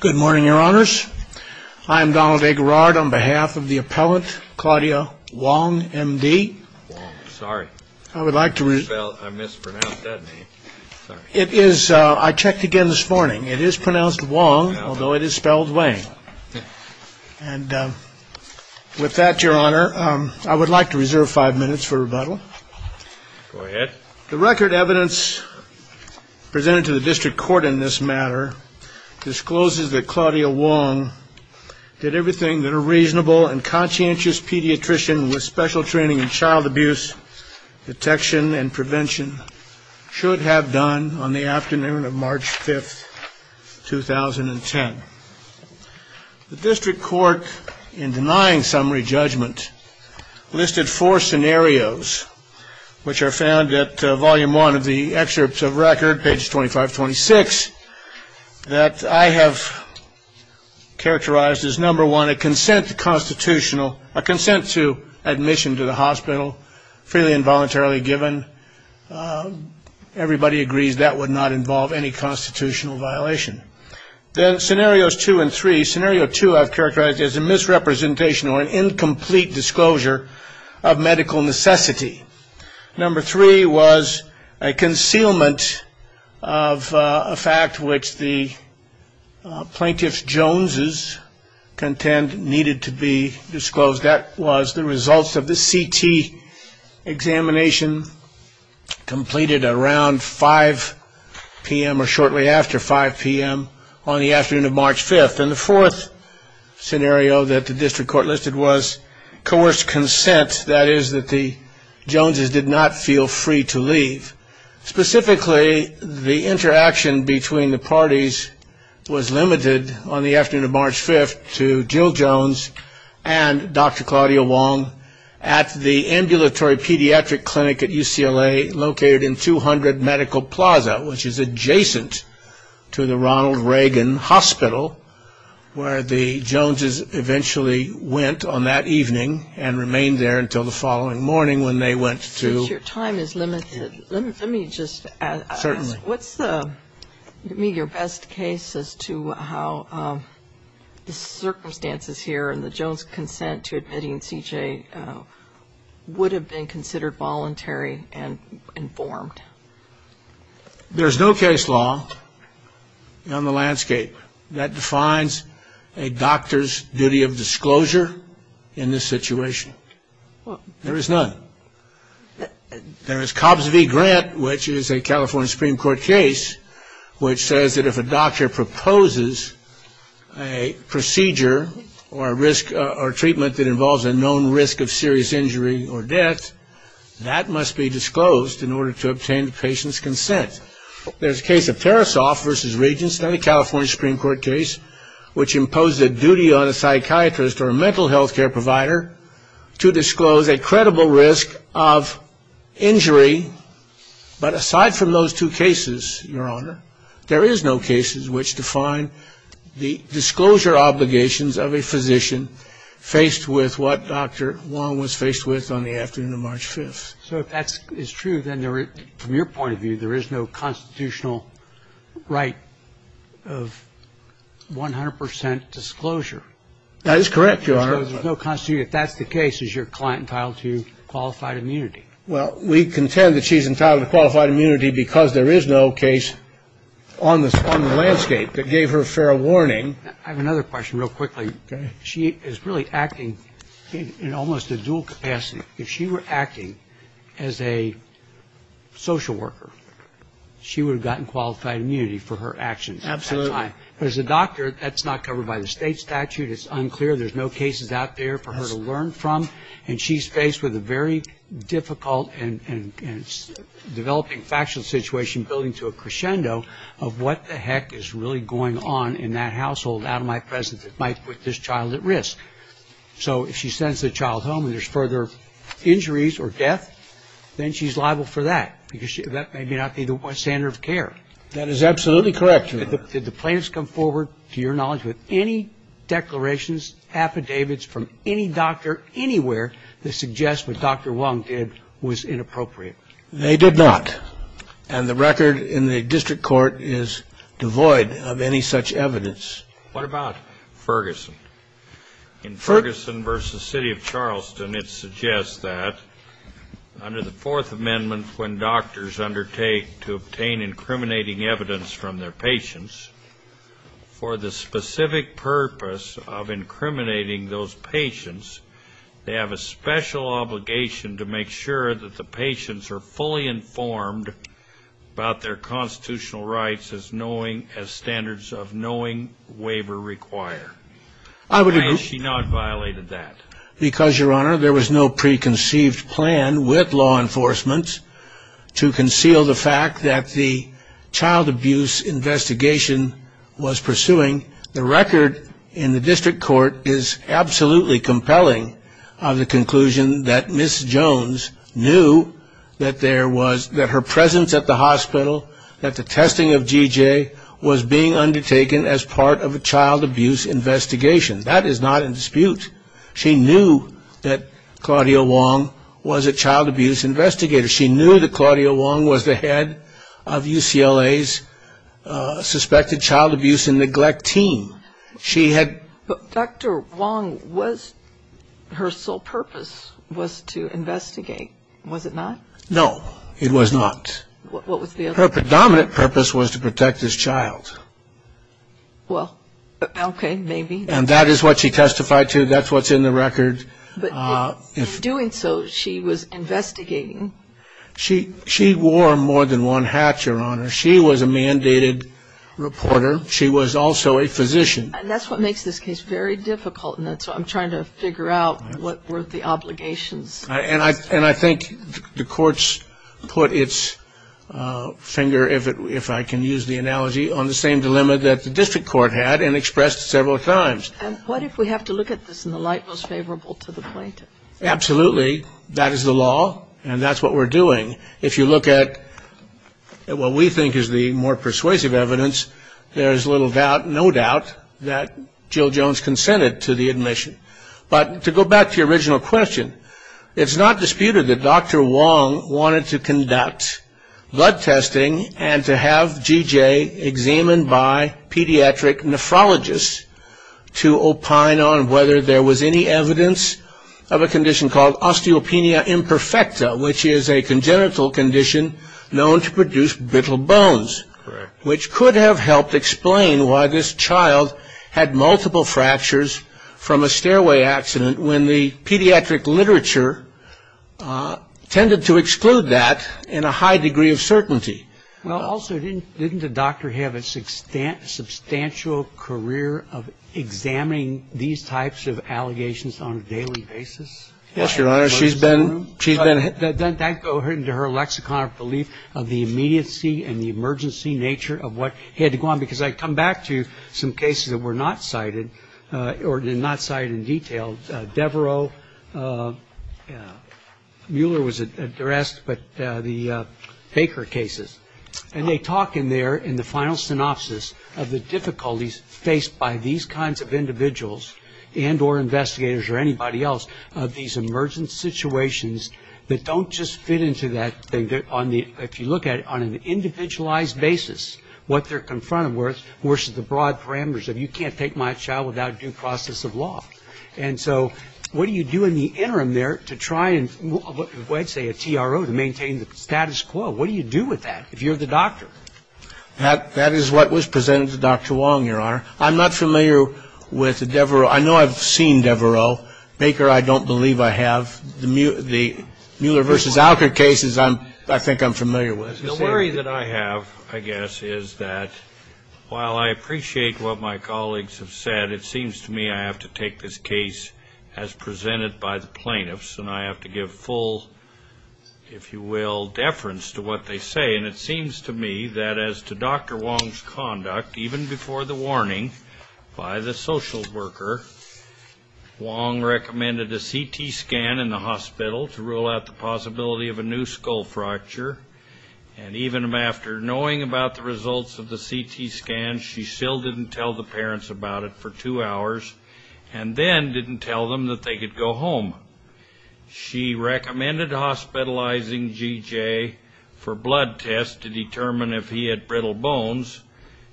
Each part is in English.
Good morning, Your Honors. I am Donald A. Garrard on behalf of the appellant, Claudia Wang, M.D. I checked again this morning. It is pronounced Wong, although it is spelled Wang. With that, Your Honor, I would like to reserve five minutes for rebuttal. Go ahead. The record evidence presented to the district court in this matter discloses that Claudia Wang did everything that a reasonable and conscientious pediatrician with special training in child abuse detection and prevention should have done on the afternoon of March 5th, 2010. The district court, in denying summary judgment, listed four scenarios, which are found at volume one of the excerpts of record, pages 25-26, that I have characterized as number one, a consent to admission to the hospital freely and voluntarily given. Everybody agrees that would not involve any constitutional violation. Then scenarios two and three, scenario two I have characterized as a misrepresentation or an incomplete disclosure of medical necessity. Number three was a concealment of a fact which the Plaintiff Jones' contend needed to be disclosed. That was the results of the CT examination completed around 5 p.m. or shortly after 5 p.m. on the afternoon of March 5th. And the fourth scenario that the district court listed was coerced consent, that is that the Joneses did not feel free to leave. Specifically, the interaction between the parties was limited on the afternoon of March 5th to Jill Jones and Dr. Claudia Wong at the ambulatory pediatric clinic at UCLA, located in 200 Medical Plaza, which is adjacent to the Ronald Reagan Hospital, where the Joneses eventually went on that evening and remained there until the following morning when they went to. Since your time is limited, let me just ask. Certainly. What's the best case as to how the circumstances here and the Joneses' consent to admitting C.J. would have been considered voluntary and informed? There's no case law on the landscape that defines a doctor's duty of disclosure in this situation. There is none. There is Cobbs v. Grant, which is a California Supreme Court case, which says that if a doctor proposes a procedure or a risk or treatment that involves a known risk of serious injury or death, that must be disclosed in order to obtain the patient's consent. There's a case of Tarasoff v. Regenstein, a California Supreme Court case, which imposed a duty on a psychiatrist or a mental health care provider to disclose a credible risk of injury. But aside from those two cases, Your Honor, there is no cases which define the disclosure obligations of a physician faced with what Dr. Wong was faced with on the afternoon of March 5th. So if that is true, then from your point of view, there is no constitutional right of 100 percent disclosure. That is correct, Your Honor. So if that's the case, is your client entitled to qualified immunity? Well, we contend that she's entitled to qualified immunity because there is no case on the landscape that gave her fair warning. I have another question real quickly. She is really acting in almost a dual capacity. If she were acting as a social worker, she would have gotten qualified immunity for her actions at that time. Absolutely. But as a doctor, that's not covered by the state statute. It's unclear. There's no cases out there for her to learn from. And she's faced with a very difficult and developing factual situation, building to a crescendo of what the heck is really going on in that household out of my presence that might put this child at risk. So if she sends the child home and there's further injuries or death, then she's liable for that because that may not be the standard of care. That is absolutely correct, Your Honor. Did the plaintiffs come forward, to your knowledge, with any declarations, affidavits from any doctor anywhere that suggests what Dr. Wong did was inappropriate? They did not. And the record in the district court is devoid of any such evidence. What about Ferguson? In Ferguson v. City of Charleston, it suggests that under the Fourth Amendment, when doctors undertake to obtain incriminating evidence from their patients, for the specific purpose of incriminating those patients, they have a special obligation to make sure that the patients are fully informed about their constitutional rights as standards of knowing waiver require. Why has she not violated that? Because, Your Honor, there was no preconceived plan with law enforcement to conceal the fact that the child abuse investigation was pursuing. The record in the district court is absolutely compelling of the conclusion that Ms. Jones knew that her presence at the hospital, that the testing of G.J., was being undertaken as part of a child abuse investigation. That is not in dispute. She knew that Claudia Wong was a child abuse investigator. She knew that Claudia Wong was the head of UCLA's suspected child abuse and neglect team. Dr. Wong, her sole purpose was to investigate, was it not? No, it was not. Her predominant purpose was to protect this child. Well, okay, maybe. And that is what she testified to. That's what's in the record. In doing so, she was investigating. She wore more than one hat, Your Honor. She was a mandated reporter. She was also a physician. And that's what makes this case very difficult, and that's why I'm trying to figure out what were the obligations. And I think the courts put its finger, if I can use the analogy, on the same dilemma that the district court had and expressed several times. And what if we have to look at this in the light most favorable to the plaintiff? Absolutely. That is the law, and that's what we're doing. If you look at what we think is the more persuasive evidence, there is little doubt, no doubt, that Jill Jones consented to the admission. But to go back to your original question, it's not disputed that Dr. Wong wanted to conduct blood testing and to have G.J. examined by pediatric nephrologists to opine on whether there was any evidence of a condition called osteopenia imperfecta, which is a congenital condition known to produce brittle bones. Correct. Which could have helped explain why this child had multiple fractures from a stairway accident when the pediatric literature tended to exclude that in a high degree of certainty. Well, also, didn't the doctor have a substantial career of examining these types of allegations on a daily basis? Yes, Your Honor. She's been to her lexicon of belief of the immediacy and the emergency nature of what he had to go on. Because I come back to some cases that were not cited or did not cite in detail. Devereaux, Mueller was addressed, but the Baker cases. And they talk in there, in the final synopsis, of the difficulties faced by these kinds of individuals and or investigators or anybody else of these emergent situations that don't just fit into that. If you look at it on an individualized basis, what they're confronted with, versus the broad parameters of you can't take my child without due process of law. And so what do you do in the interim there to try and, I'd say a TRO, to maintain the status quo? What do you do with that if you're the doctor? That is what was presented to Dr. Wong, Your Honor. I'm not familiar with Devereaux. I know I've seen Devereaux. Baker, I don't believe I have. The Mueller versus Alker cases, I think I'm familiar with. The worry that I have, I guess, is that while I appreciate what my colleagues have said, it seems to me I have to take this case as presented by the plaintiffs, and I have to give full, if you will, deference to what they say. And it seems to me that as to Dr. Wong's conduct, even before the warning by the social worker, Wong recommended a CT scan in the hospital to rule out the possibility of a new skull fracture. And even after knowing about the results of the CT scan, she still didn't tell the parents about it for two hours, and then didn't tell them that they could go home. She recommended hospitalizing J.J. for blood tests to determine if he had brittle bones.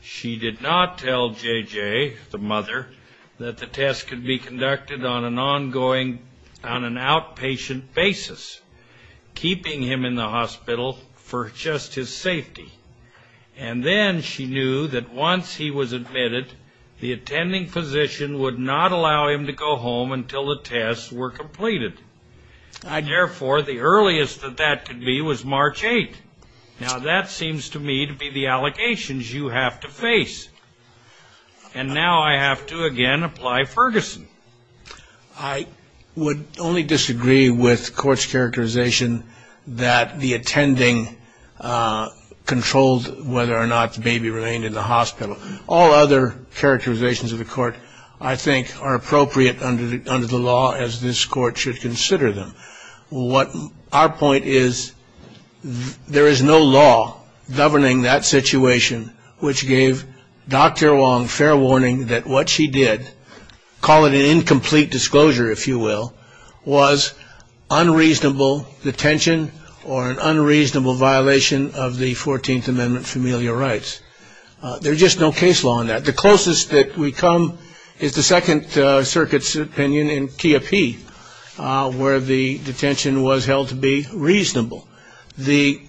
She did not tell J.J., the mother, that the test could be conducted on an ongoing, on an outpatient basis, keeping him in the hospital for just his safety. And then she knew that once he was admitted, the attending physician would not allow him to go home until the tests were completed. Therefore, the earliest that that could be was March 8th. Now, that seems to me to be the allegations you have to face. And now I have to, again, apply Ferguson. I would only disagree with court's characterization that the attending controlled whether or not the baby remained in the hospital. All other characterizations of the court, I think, are appropriate under the law, as this court should consider them. Our point is there is no law governing that situation, which gave Dr. Wong fair warning that what she did, call it an incomplete disclosure, if you will, was unreasonable detention or an unreasonable violation of the 14th Amendment familial rights. There's just no case law on that. The closest that we come is the Second Circuit's opinion in KOP, where the detention was held to be reasonable. The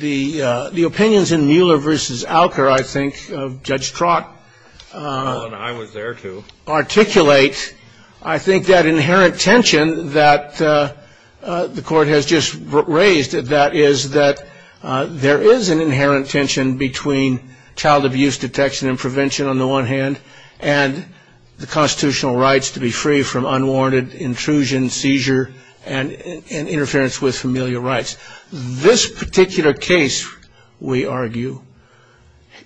opinions in Mueller v. Alker, I think, Judge Trott. And I was there, too. Articulate, I think, that inherent tension that the court has just raised, that is that there is an inherent tension between child abuse detection and prevention, on the one hand, and the constitutional rights to be free from unwarranted intrusion, seizure, and interference with familial rights. This particular case, we argue,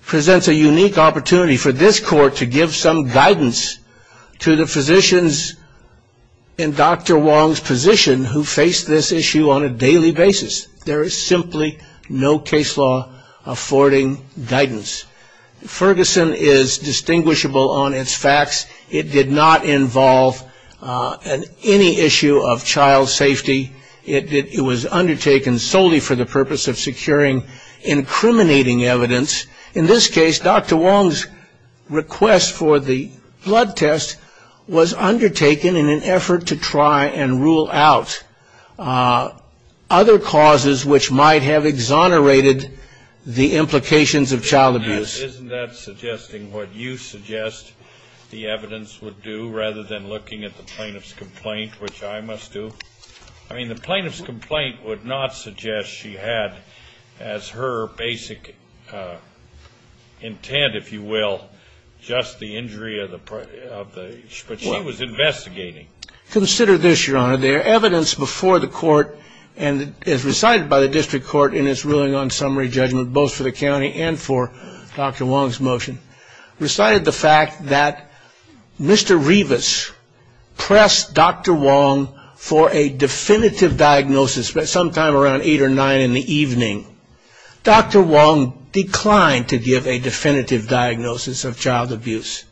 presents a unique opportunity for this court to give some guidance to the physicians in Dr. Wong's position who face this issue on a daily basis. There is simply no case law affording guidance. Ferguson is distinguishable on its facts. It did not involve any issue of child safety. It was undertaken solely for the purpose of securing incriminating evidence. In this case, Dr. Wong's request for the blood test was undertaken in an effort to try and rule out other causes which might have exonerated the implications of child abuse. Isn't that suggesting what you suggest the evidence would do rather than looking at the plaintiff's complaint, which I must do? I mean, the plaintiff's complaint would not suggest she had as her basic intent, if you will, just the injury of the child. But she was investigating. Consider this, Your Honor. The evidence before the court and as recited by the district court in its ruling on summary judgment, both for the county and for Dr. Wong's motion, recited the fact that Mr. Revis pressed Dr. Wong for a definitive diagnosis sometime around 8 or 9 in the evening. Dr. Wong declined to give a definitive diagnosis of child abuse.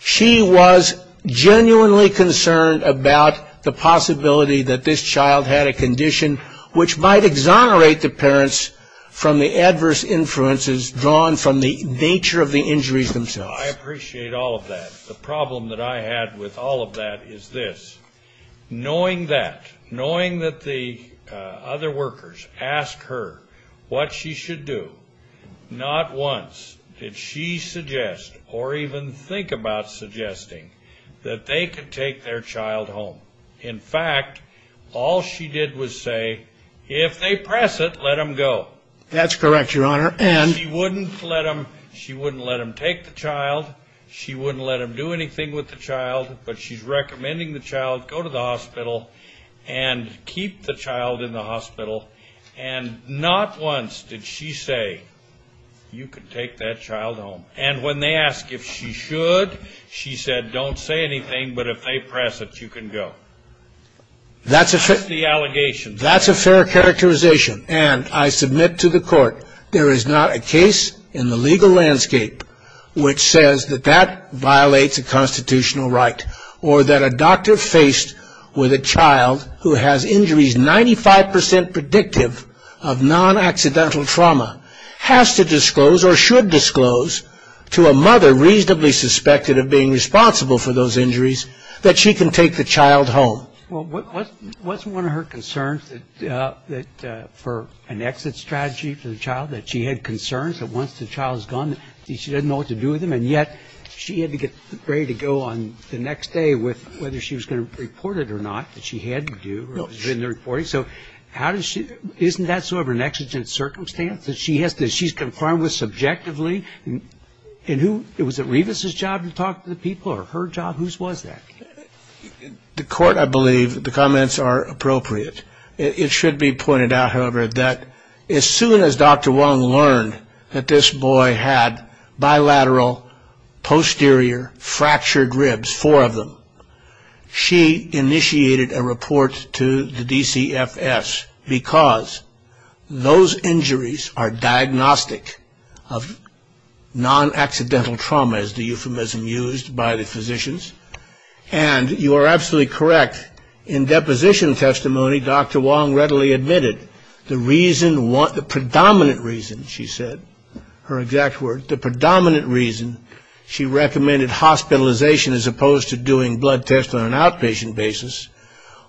She was genuinely concerned about the possibility that this child had a condition which might exonerate the parents from the adverse influences drawn from the nature of the injuries themselves. I appreciate all of that. The problem that I had with all of that is this. Knowing that, knowing that the other workers asked her what she should do, not once did she suggest or even think about suggesting that they could take their child home. In fact, all she did was say, if they press it, let them go. That's correct, Your Honor. And? She wouldn't let them take the child. She wouldn't let them do anything with the child. But she's recommending the child go to the hospital and keep the child in the hospital. And not once did she say, you can take that child home. And when they asked if she should, she said, don't say anything, but if they press it, you can go. That's the allegations. That's a fair characterization. And I submit to the court, there is not a case in the legal landscape which says that that violates a constitutional right or that a doctor faced with a child who has injuries 95% predictive of non-accidental trauma has to disclose or should disclose to a mother reasonably suspected of being responsible for those injuries that she can take the child home. Well, wasn't one of her concerns that for an exit strategy for the child, that she had concerns that once the child's gone, she doesn't know what to do with them, and yet she had to get ready to go on the next day with whether she was going to report it or not, that she had to do, or it was in the reporting. So how does she, isn't that sort of an exigent circumstance that she has to, that she's confirmed with subjectively? And who, was it Revis's job to talk to the people or her job? Whose was that? The court, I believe, the comments are appropriate. It should be pointed out, however, that as soon as Dr. Wong learned that this boy had bilateral posterior fractured ribs, she initiated a report to the DCFS because those injuries are diagnostic of non-accidental trauma, as the euphemism used by the physicians, and you are absolutely correct. In deposition testimony, Dr. Wong readily admitted the reason, the predominant reason, she said, her exact word, the predominant reason she recommended hospitalization as opposed to doing blood tests on an outpatient basis,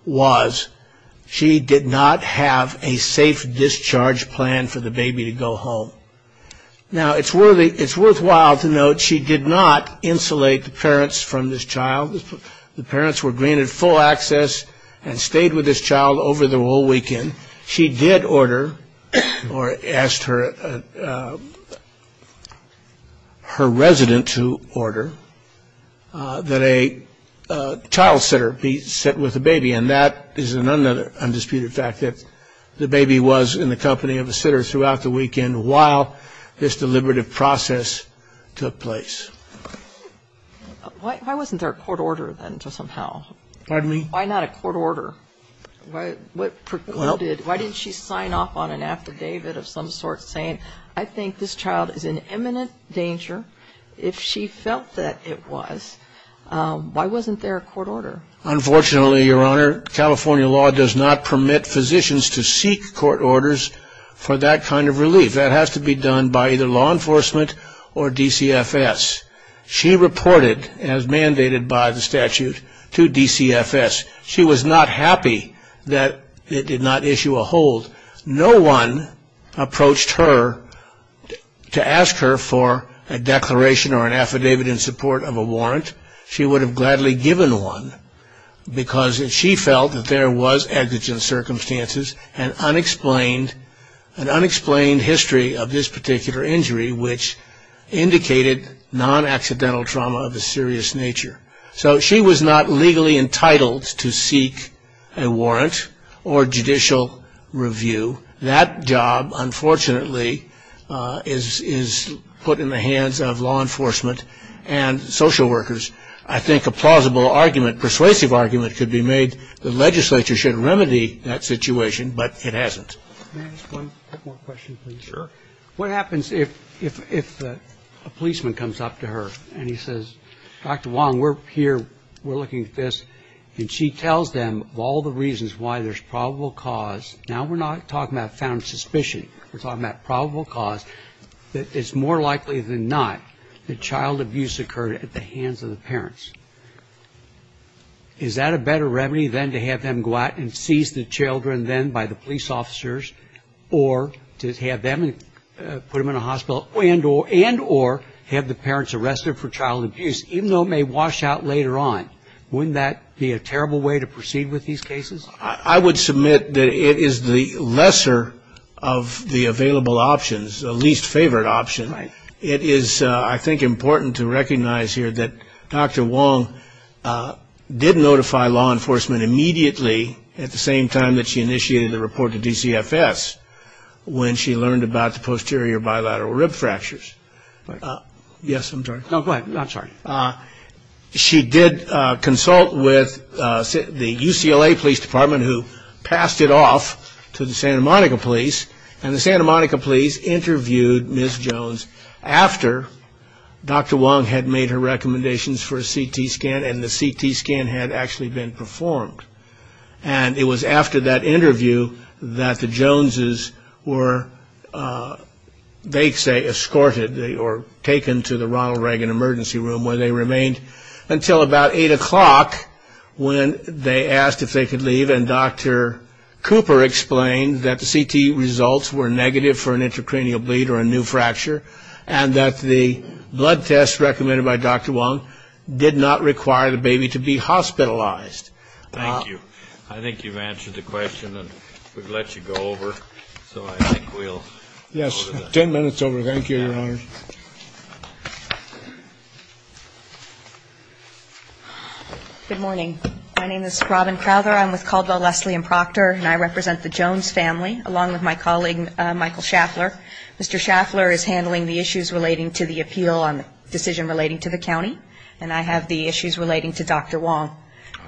was she did not have a safe discharge plan for the baby to go home. Now, it's worthwhile to note she did not insulate the parents from this child. The parents were granted full access and stayed with this child over the whole weekend. She did order or asked her resident to order that a child sitter be sent with the baby, and that is an undisputed fact that the baby was in the company of a sitter throughout the weekend while this deliberative process took place. Why wasn't there a court order then to somehow? Pardon me? Why not a court order? Why didn't she sign off on an after David of some sort saying I think this child is in imminent danger? If she felt that it was, why wasn't there a court order? Unfortunately, Your Honor, California law does not permit physicians to seek court orders for that kind of relief. That has to be done by either law enforcement or DCFS. She reported, as mandated by the statute, to DCFS. She was not happy that it did not issue a hold. No one approached her to ask her for a declaration or an affidavit in support of a warrant. She would have gladly given one because she felt that there was exigent circumstances and unexplained history of this particular injury which indicated non-accidental trauma of a serious nature. So she was not legally entitled to seek a warrant or judicial review. That job, unfortunately, is put in the hands of law enforcement and social workers. I think a plausible argument, persuasive argument, could be made the legislature should remedy that situation, but it hasn't. One more question, please. Sure. What happens if a policeman comes up to her and he says, Dr. Wong, we're here, we're looking at this, and she tells them of all the reasons why there's probable cause. Now we're not talking about found suspicion. We're talking about probable cause. It's more likely than not that child abuse occurred at the hands of the parents. Is that a better remedy than to have them go out and seize the children then by the police officers or to have them put them in a hospital and or have the parents arrested for child abuse, even though it may wash out later on? Wouldn't that be a terrible way to proceed with these cases? I would submit that it is the lesser of the available options, the least favored option. It is, I think, important to recognize here that Dr. Wong did notify law enforcement immediately at the same time that she initiated the report to DCFS when she learned about the posterior bilateral rib fractures. Yes, I'm sorry. No, go ahead. I'm sorry. She did consult with the UCLA Police Department, who passed it off to the Santa Monica Police, and the Santa Monica Police interviewed Ms. Jones after Dr. Wong had made her recommendations for a CT scan and the CT scan had actually been performed. And it was after that interview that the Joneses were, they say, escorted or taken to the Ronald Reagan Emergency Room where they remained until about 8 o'clock when they asked if they could leave and Dr. Cooper explained that the CT results were negative for an intracranial bleed or a new fracture and that the blood test recommended by Dr. Wong did not require the baby to be hospitalized. Thank you. I think you've answered the question and we've let you go over, so I think we'll go to the next. Yes, 10 minutes over. Thank you, Your Honor. Good morning. My name is Robin Crowther. I'm with Caldwell, Leslie & Proctor, and I represent the Jones family, along with my colleague Michael Schaffler. Mr. Schaffler is handling the issues relating to the appeal on the decision relating to the county. And I have the issues relating to Dr. Wong.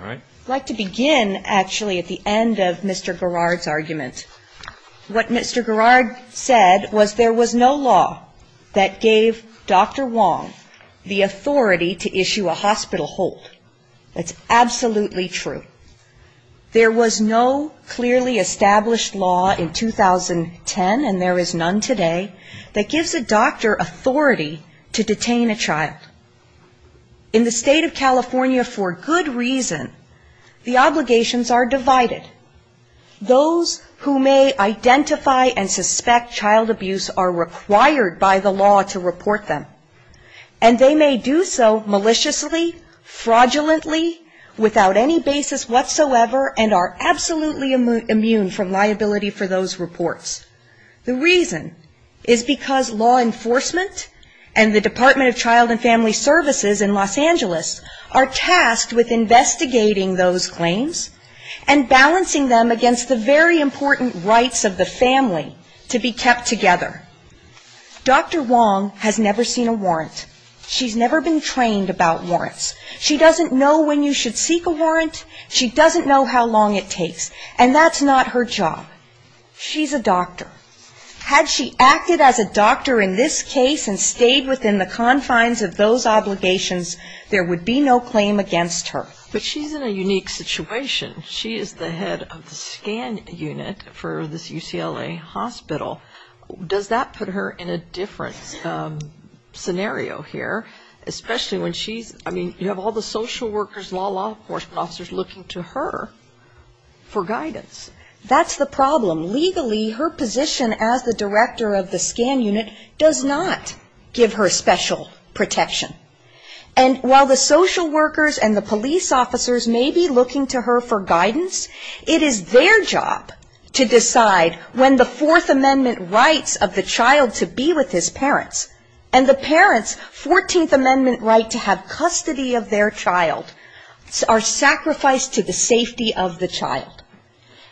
I'd like to begin, actually, at the end of Mr. Garrard's argument. What Mr. Garrard said was there was no law that gave Dr. Wong the authority to issue a hospital hold. That's absolutely true. There was no clearly established law in 2010, and there is none today, that gives a doctor authority to detain a child. In the state of California, for good reason, the obligations are divided. Those who may identify and suspect child abuse are required by the law to report them. And they may do so maliciously, fraudulently, without any basis whatsoever, and are absolutely immune from liability for those reports. The reason is because law enforcement and the Department of Child and Family Services in Los Angeles are tasked with investigating those claims and balancing them against the very important rights of the family to be kept together. Dr. Wong has never seen a warrant. She's never been trained about warrants. She doesn't know when you should seek a warrant. She doesn't know how long it takes. And that's not her job. She's a doctor. Had she acted as a doctor in this case and stayed within the confines of those obligations, there would be no claim against her. But she's in a unique situation. She is the head of the scan unit for this UCLA hospital. Does that put her in a different scenario here, especially when she's, I mean, you have all the social workers, law enforcement officers looking to her for guidance. That's the problem. Legally, her position as the director of the scan unit does not give her special protection. And while the social workers and the police officers may be looking to her for guidance, it is their job to decide when the Fourth Amendment rights of the child to be with his parents, and the parents' Fourteenth Amendment right to have custody of their child, are sacrificed to the safety of the child.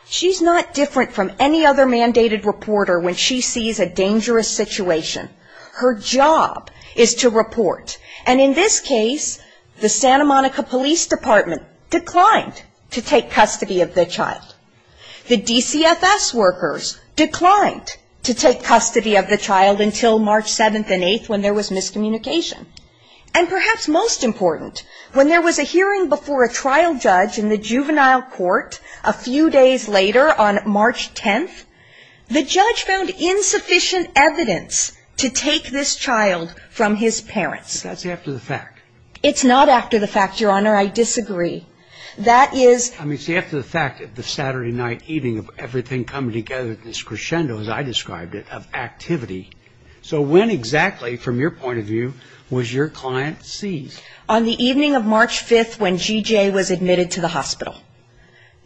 She's not different from any other mandated reporter when she sees a dangerous situation. Her job is to report. And in this case, the Santa Monica Police Department declined to take custody of the child. The DCFS workers declined to take custody of the child until March 7th and 8th when there was miscommunication. And perhaps most important, when there was a hearing before a trial judge in the juvenile court a few days later on March 10th, the judge found insufficient evidence to take this child from his parents. But that's after the fact. It's not after the fact, Your Honor. I disagree. I mean, it's after the fact that the Saturday night evening of everything coming together, this crescendo, as I described it, of activity. So when exactly, from your point of view, was your client seized? On the evening of March 5th when G.J. was admitted to the hospital.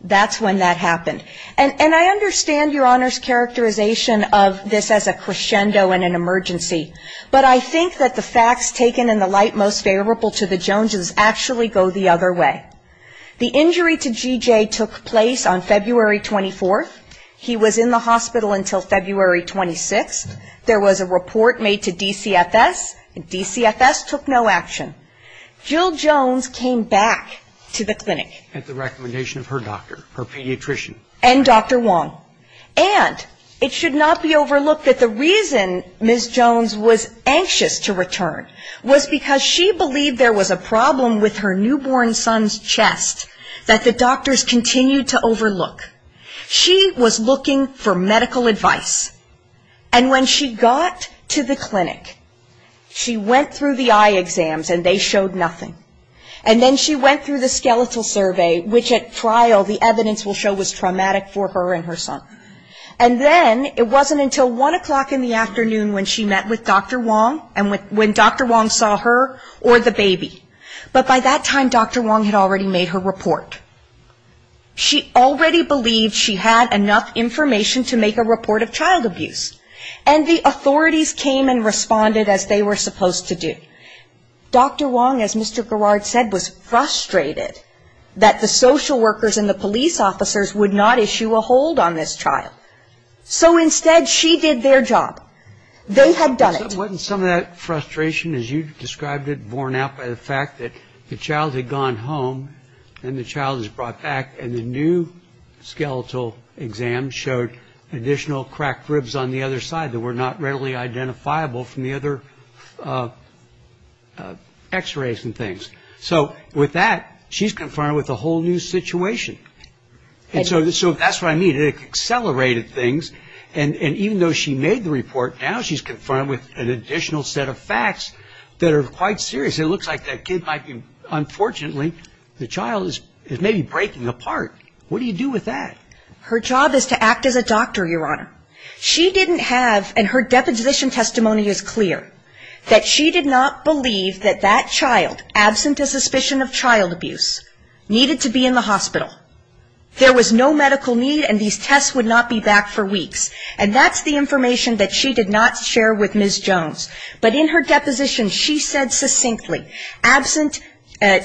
That's when that happened. And I understand Your Honor's characterization of this as a crescendo and an emergency. But I think that the facts taken in the light most favorable to the Joneses actually go the other way. The injury to G.J. took place on February 24th. He was in the hospital until February 26th. There was a report made to DCFS, and DCFS took no action. Jill Jones came back to the clinic. At the recommendation of her doctor, her pediatrician. And Dr. Wong. And it should not be overlooked that the reason Ms. Jones was anxious to return was because she believed there was a problem with her newborn son's chest that the doctors continued to overlook. She was looking for medical advice. And when she got to the clinic, she went through the eye exams and they showed nothing. And then she went through the skeletal survey, which at trial the evidence will show was traumatic for her and her son. And then it wasn't until 1 o'clock in the afternoon when she met with Dr. Wong and when Dr. Wong saw her or the baby. But by that time Dr. Wong had already made her report. She already believed she had enough information to make a report of child abuse. And the authorities came and responded as they were supposed to do. Dr. Wong, as Mr. Garrard said, was frustrated that the social workers and the police officers would not issue a hold on this child. So instead she did their job. They had done it. Wasn't some of that frustration, as you described it, borne out by the fact that the child had gone home and the child was brought back and the new skeletal exam showed additional cracked ribs on the other side that were not readily identifiable from the other side. So that's what I mean. It accelerated things. And even though she made the report, now she's confirmed with an additional set of facts that are quite serious. It looks like that kid might be, unfortunately, the child is maybe breaking apart. What do you do with that? Her job is to act as a doctor, Your Honor. She didn't have, and her deposition testimony is clear, that she did not believe that that child, absent a suspicion of child abuse, needed to be in the hospital. There was no medical need and these tests would not be back for weeks. And that's the information that she did not share with Ms. Jones. But in her deposition, she said succinctly, absent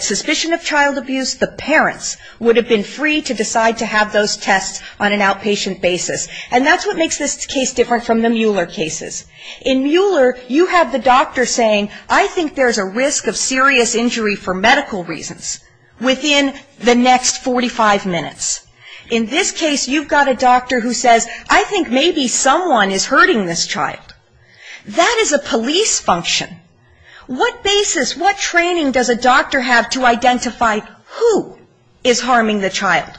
suspicion of child abuse, the parents would have been free to decide to have those tests on an outpatient basis. And that's what makes this case different from the Mueller cases. In Mueller, you have the doctor saying, I think there's a risk of serious injury for medical reasons within the next 45 minutes. In this case, you've got a doctor who says, I think maybe someone is hurting this child. That is a police function. What basis, what training does a doctor have to identify who is harming the child?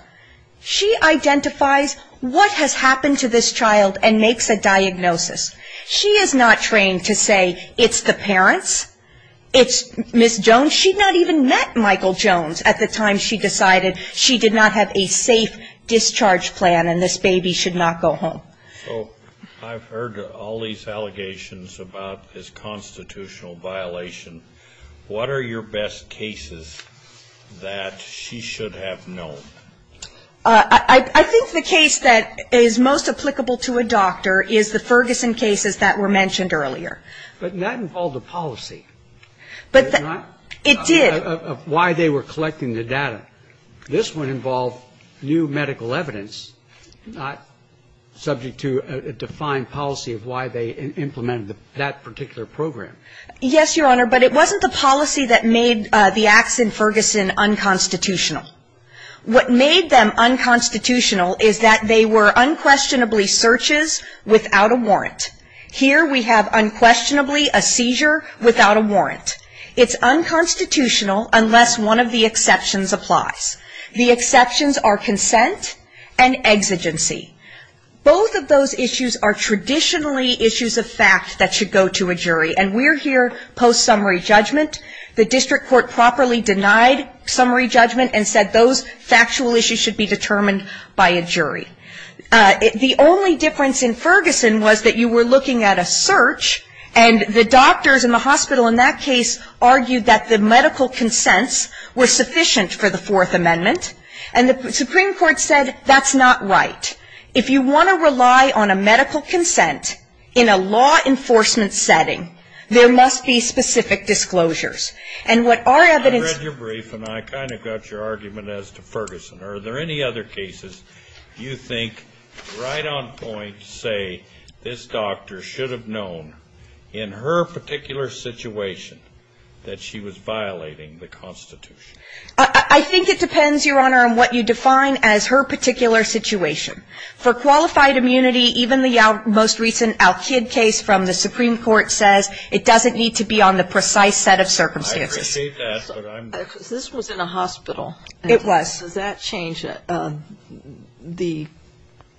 She identifies what has happened to this child and makes a diagnosis. She is not trained to say, it's the parents, it's Ms. Jones. She not even met Michael Jones at the time she decided she did not have a safe discharge plan and this baby should not go home. So I've heard all these allegations about this constitutional violation. What are your best cases that she should have known? I think the case that is most applicable to a doctor is the Ferguson cases that were mentioned earlier. But that involved a policy. It did. It involved a policy of why they were collecting the data. This one involved new medical evidence, not subject to a defined policy of why they implemented that particular program. Yes, Your Honor, but it wasn't the policy that made the acts in Ferguson unconstitutional. What made them unconstitutional is that they were unquestionably searches without a warrant. Here we have unquestionably a seizure without a warrant. It's unconstitutional unless one of the exceptions applies. The exceptions are consent and exigency. Both of those issues are traditionally issues of fact that should go to a jury. And we're here post-summary judgment. The district court properly denied summary judgment and said those factual issues should be determined by a jury. The only difference in Ferguson was that you were looking at a search, and the doctors in the hospital in that case argued that the medical consents were sufficient for the Fourth Amendment. And the Supreme Court said that's not right. If you want to rely on a medical consent in a law enforcement setting, there must be specific disclosures. And what our evidence ---- I think it depends, Your Honor, on what you define as her particular situation. For qualified immunity, even the most recent Al-Kid case from the Supreme Court says it doesn't need to be on the precise set of circumstances. I appreciate that, but I'm ---- This was in a hospital. It was. Does that change the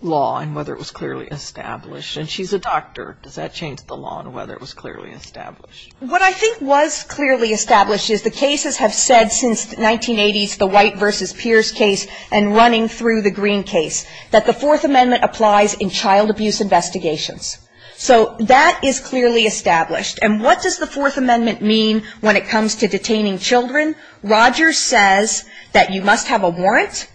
law and whether it was clearly established? And she's a doctor. Does that change the law and whether it was clearly established? What I think was clearly established is the cases have said since the 1980s, the White v. Pierce case and running through the Green case, that the Fourth Amendment applies in child abuse investigations. So that is clearly established. And what does the Fourth Amendment mean when it comes to detaining children? Rogers says that you must have a warrant,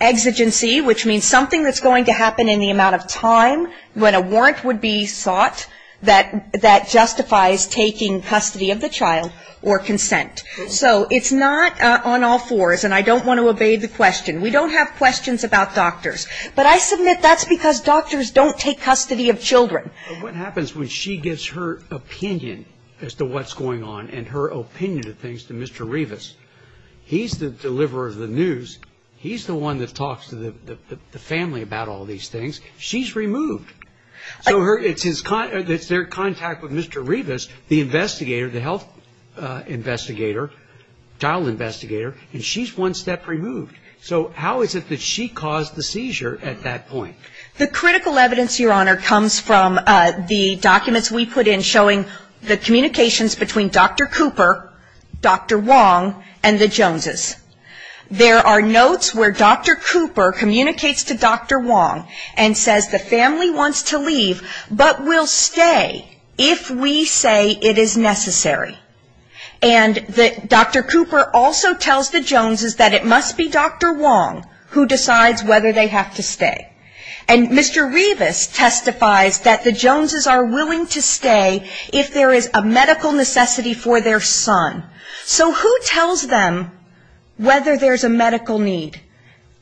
exigency, which means something that's going to happen in the amount of time when a warrant would be sought that justifies taking custody of the child or consent. So it's not on all fours, and I don't want to obey the question. We don't have questions about doctors. But I submit that's because doctors don't take custody of children. But what happens when she gives her opinion as to what's going on and her opinion of things to Mr. Revis? He's the deliverer of the news. He's the one that talks to the family about all these things. She's removed. So it's their contact with Mr. Revis, the investigator, the health investigator, child investigator, and she's one step removed. So how is it that she caused the seizure at that point? The critical evidence, Your Honor, comes from the documents we put in showing the communications between Dr. Cooper, Dr. Wong, and the Joneses. There are notes where Dr. Cooper communicates to Dr. Wong and says the family wants to leave, but will stay if we say it is necessary. And Dr. Cooper also tells the Joneses that it must be Dr. Wong who decides whether they have to stay. And Mr. Revis testifies that the Joneses are willing to stay if there is a medical necessity for their son. So who tells them whether there's a medical need?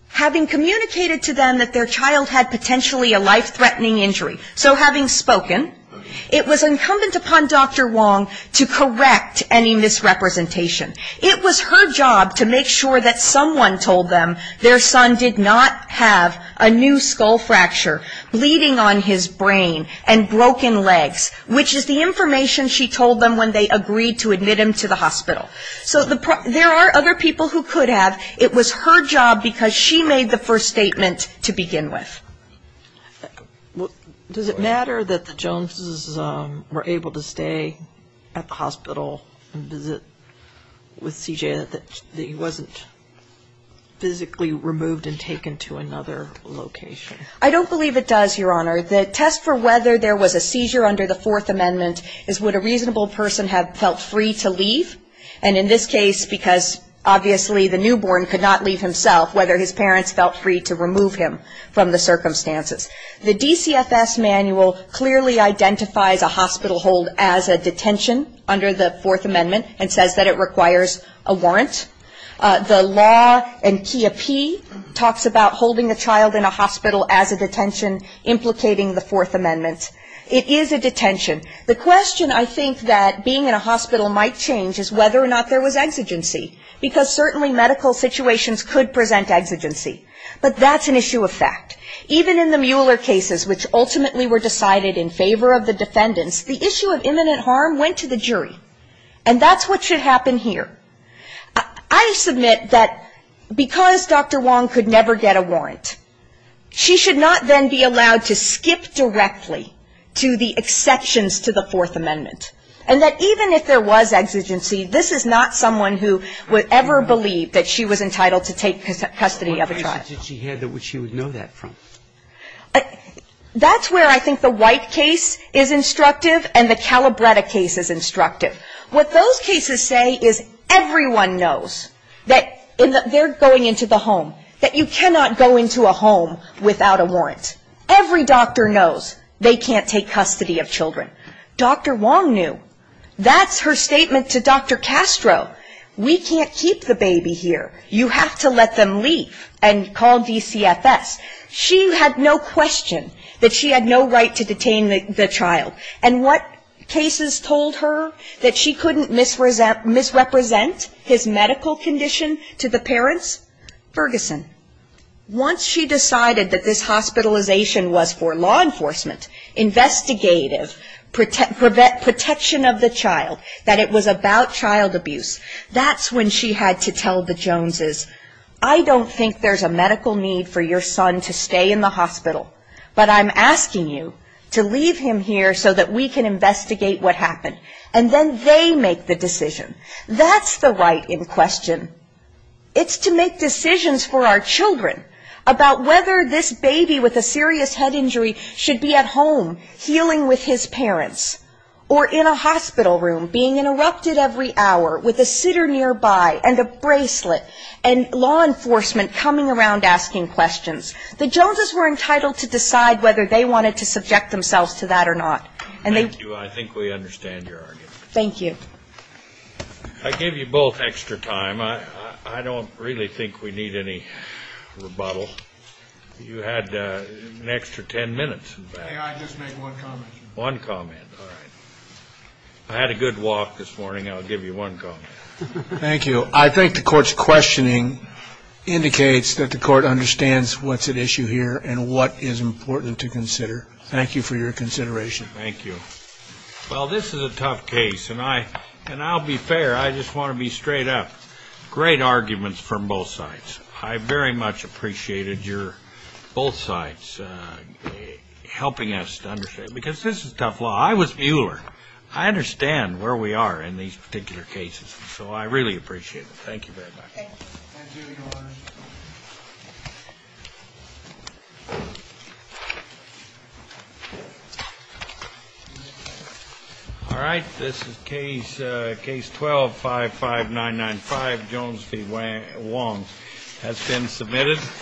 Having communicated to them that their child had potentially a life-threatening injury. So having spoken, it was incumbent upon Dr. Wong to correct any misrepresentation. It was her job to make sure that someone told them their son did not have a new skull fragment fracture, bleeding on his brain, and broken legs, which is the information she told them when they agreed to admit him to the hospital. So there are other people who could have. It was her job because she made the first statement to begin with. Does it matter that the Joneses were able to stay at the hospital and visit with CJ, that he wasn't physically removed and taken to another location? I don't believe it does, Your Honor. The test for whether there was a seizure under the Fourth Amendment is would a reasonable person have felt free to leave. And in this case, because obviously the newborn could not leave himself, whether his parents felt free to remove him from the circumstances. The DCFS manual clearly identifies a hospital hold as a detention under the Fourth Amendment and says that it requires a warrant. The law in CHIA-P talks about holding a child in a hospital as a detention, implicating the Fourth Amendment. It is a detention. The question I think that being in a hospital might change is whether or not there was exigency, because certainly medical situations could present exigency, but that's an issue of fact. Even in the Mueller cases, which ultimately were decided in favor of the defendants, the issue of imminent harm went to the jury, and that's what should happen here. I submit that because Dr. Wong could never get a warrant, she should not then be allowed to skip directly to the exceptions to the Fourth Amendment, and that even if there was exigency, this is not someone who would ever believe that she was entitled to take custody of a child. That's where I think the White case is instructive and the Calabretta case is instructive. What those cases say is everyone knows that they're going into the home, that you cannot go into a home without a warrant. Every doctor knows they can't take custody of children. Dr. Wong knew. That's her statement to Dr. Castro. We can't keep the baby here. You have to let them leave and call DCFS. She had no question that she had no right to detain the child. And what cases told her that she couldn't misrepresent his medical condition to the parents? Ferguson. Once she decided that this hospitalization was for law enforcement, investigative, protection of the child, that it was about child abuse, that's when she had to tell the Joneses, I don't think there's a medical need for your son to stay in the hospital, but I'm asking you to leave him here so that we can investigate what happened. And then they make the decision. That's the right in question. It's to make decisions for our children about whether this baby with a serious head injury should be at home healing with his parents or in a hospital room being interrupted every hour with a sitter nearby and a bracelet and law enforcement coming around asking questions. The Joneses were entitled to decide whether they wanted to subject themselves to that or not. And they do. I think we understand your argument. Thank you. I give you both extra time. I don't really think we need any rebuttal. You had an extra ten minutes. I had a good walk this morning. Thank you. I think the court's questioning indicates that the court understands what's at issue here and what is important to consider. Thank you for your consideration. Well, this is a tough case, and I'll be fair, I just want to be straight up. Great arguments from both sides. I very much appreciated your both sides helping us to understand, because this is tough law. I was Mueller. I understand where we are in these particular cases, so I really appreciate it. Thank you very much. All right. This is case 12-55995, Jones v. Wong. That's been submitted.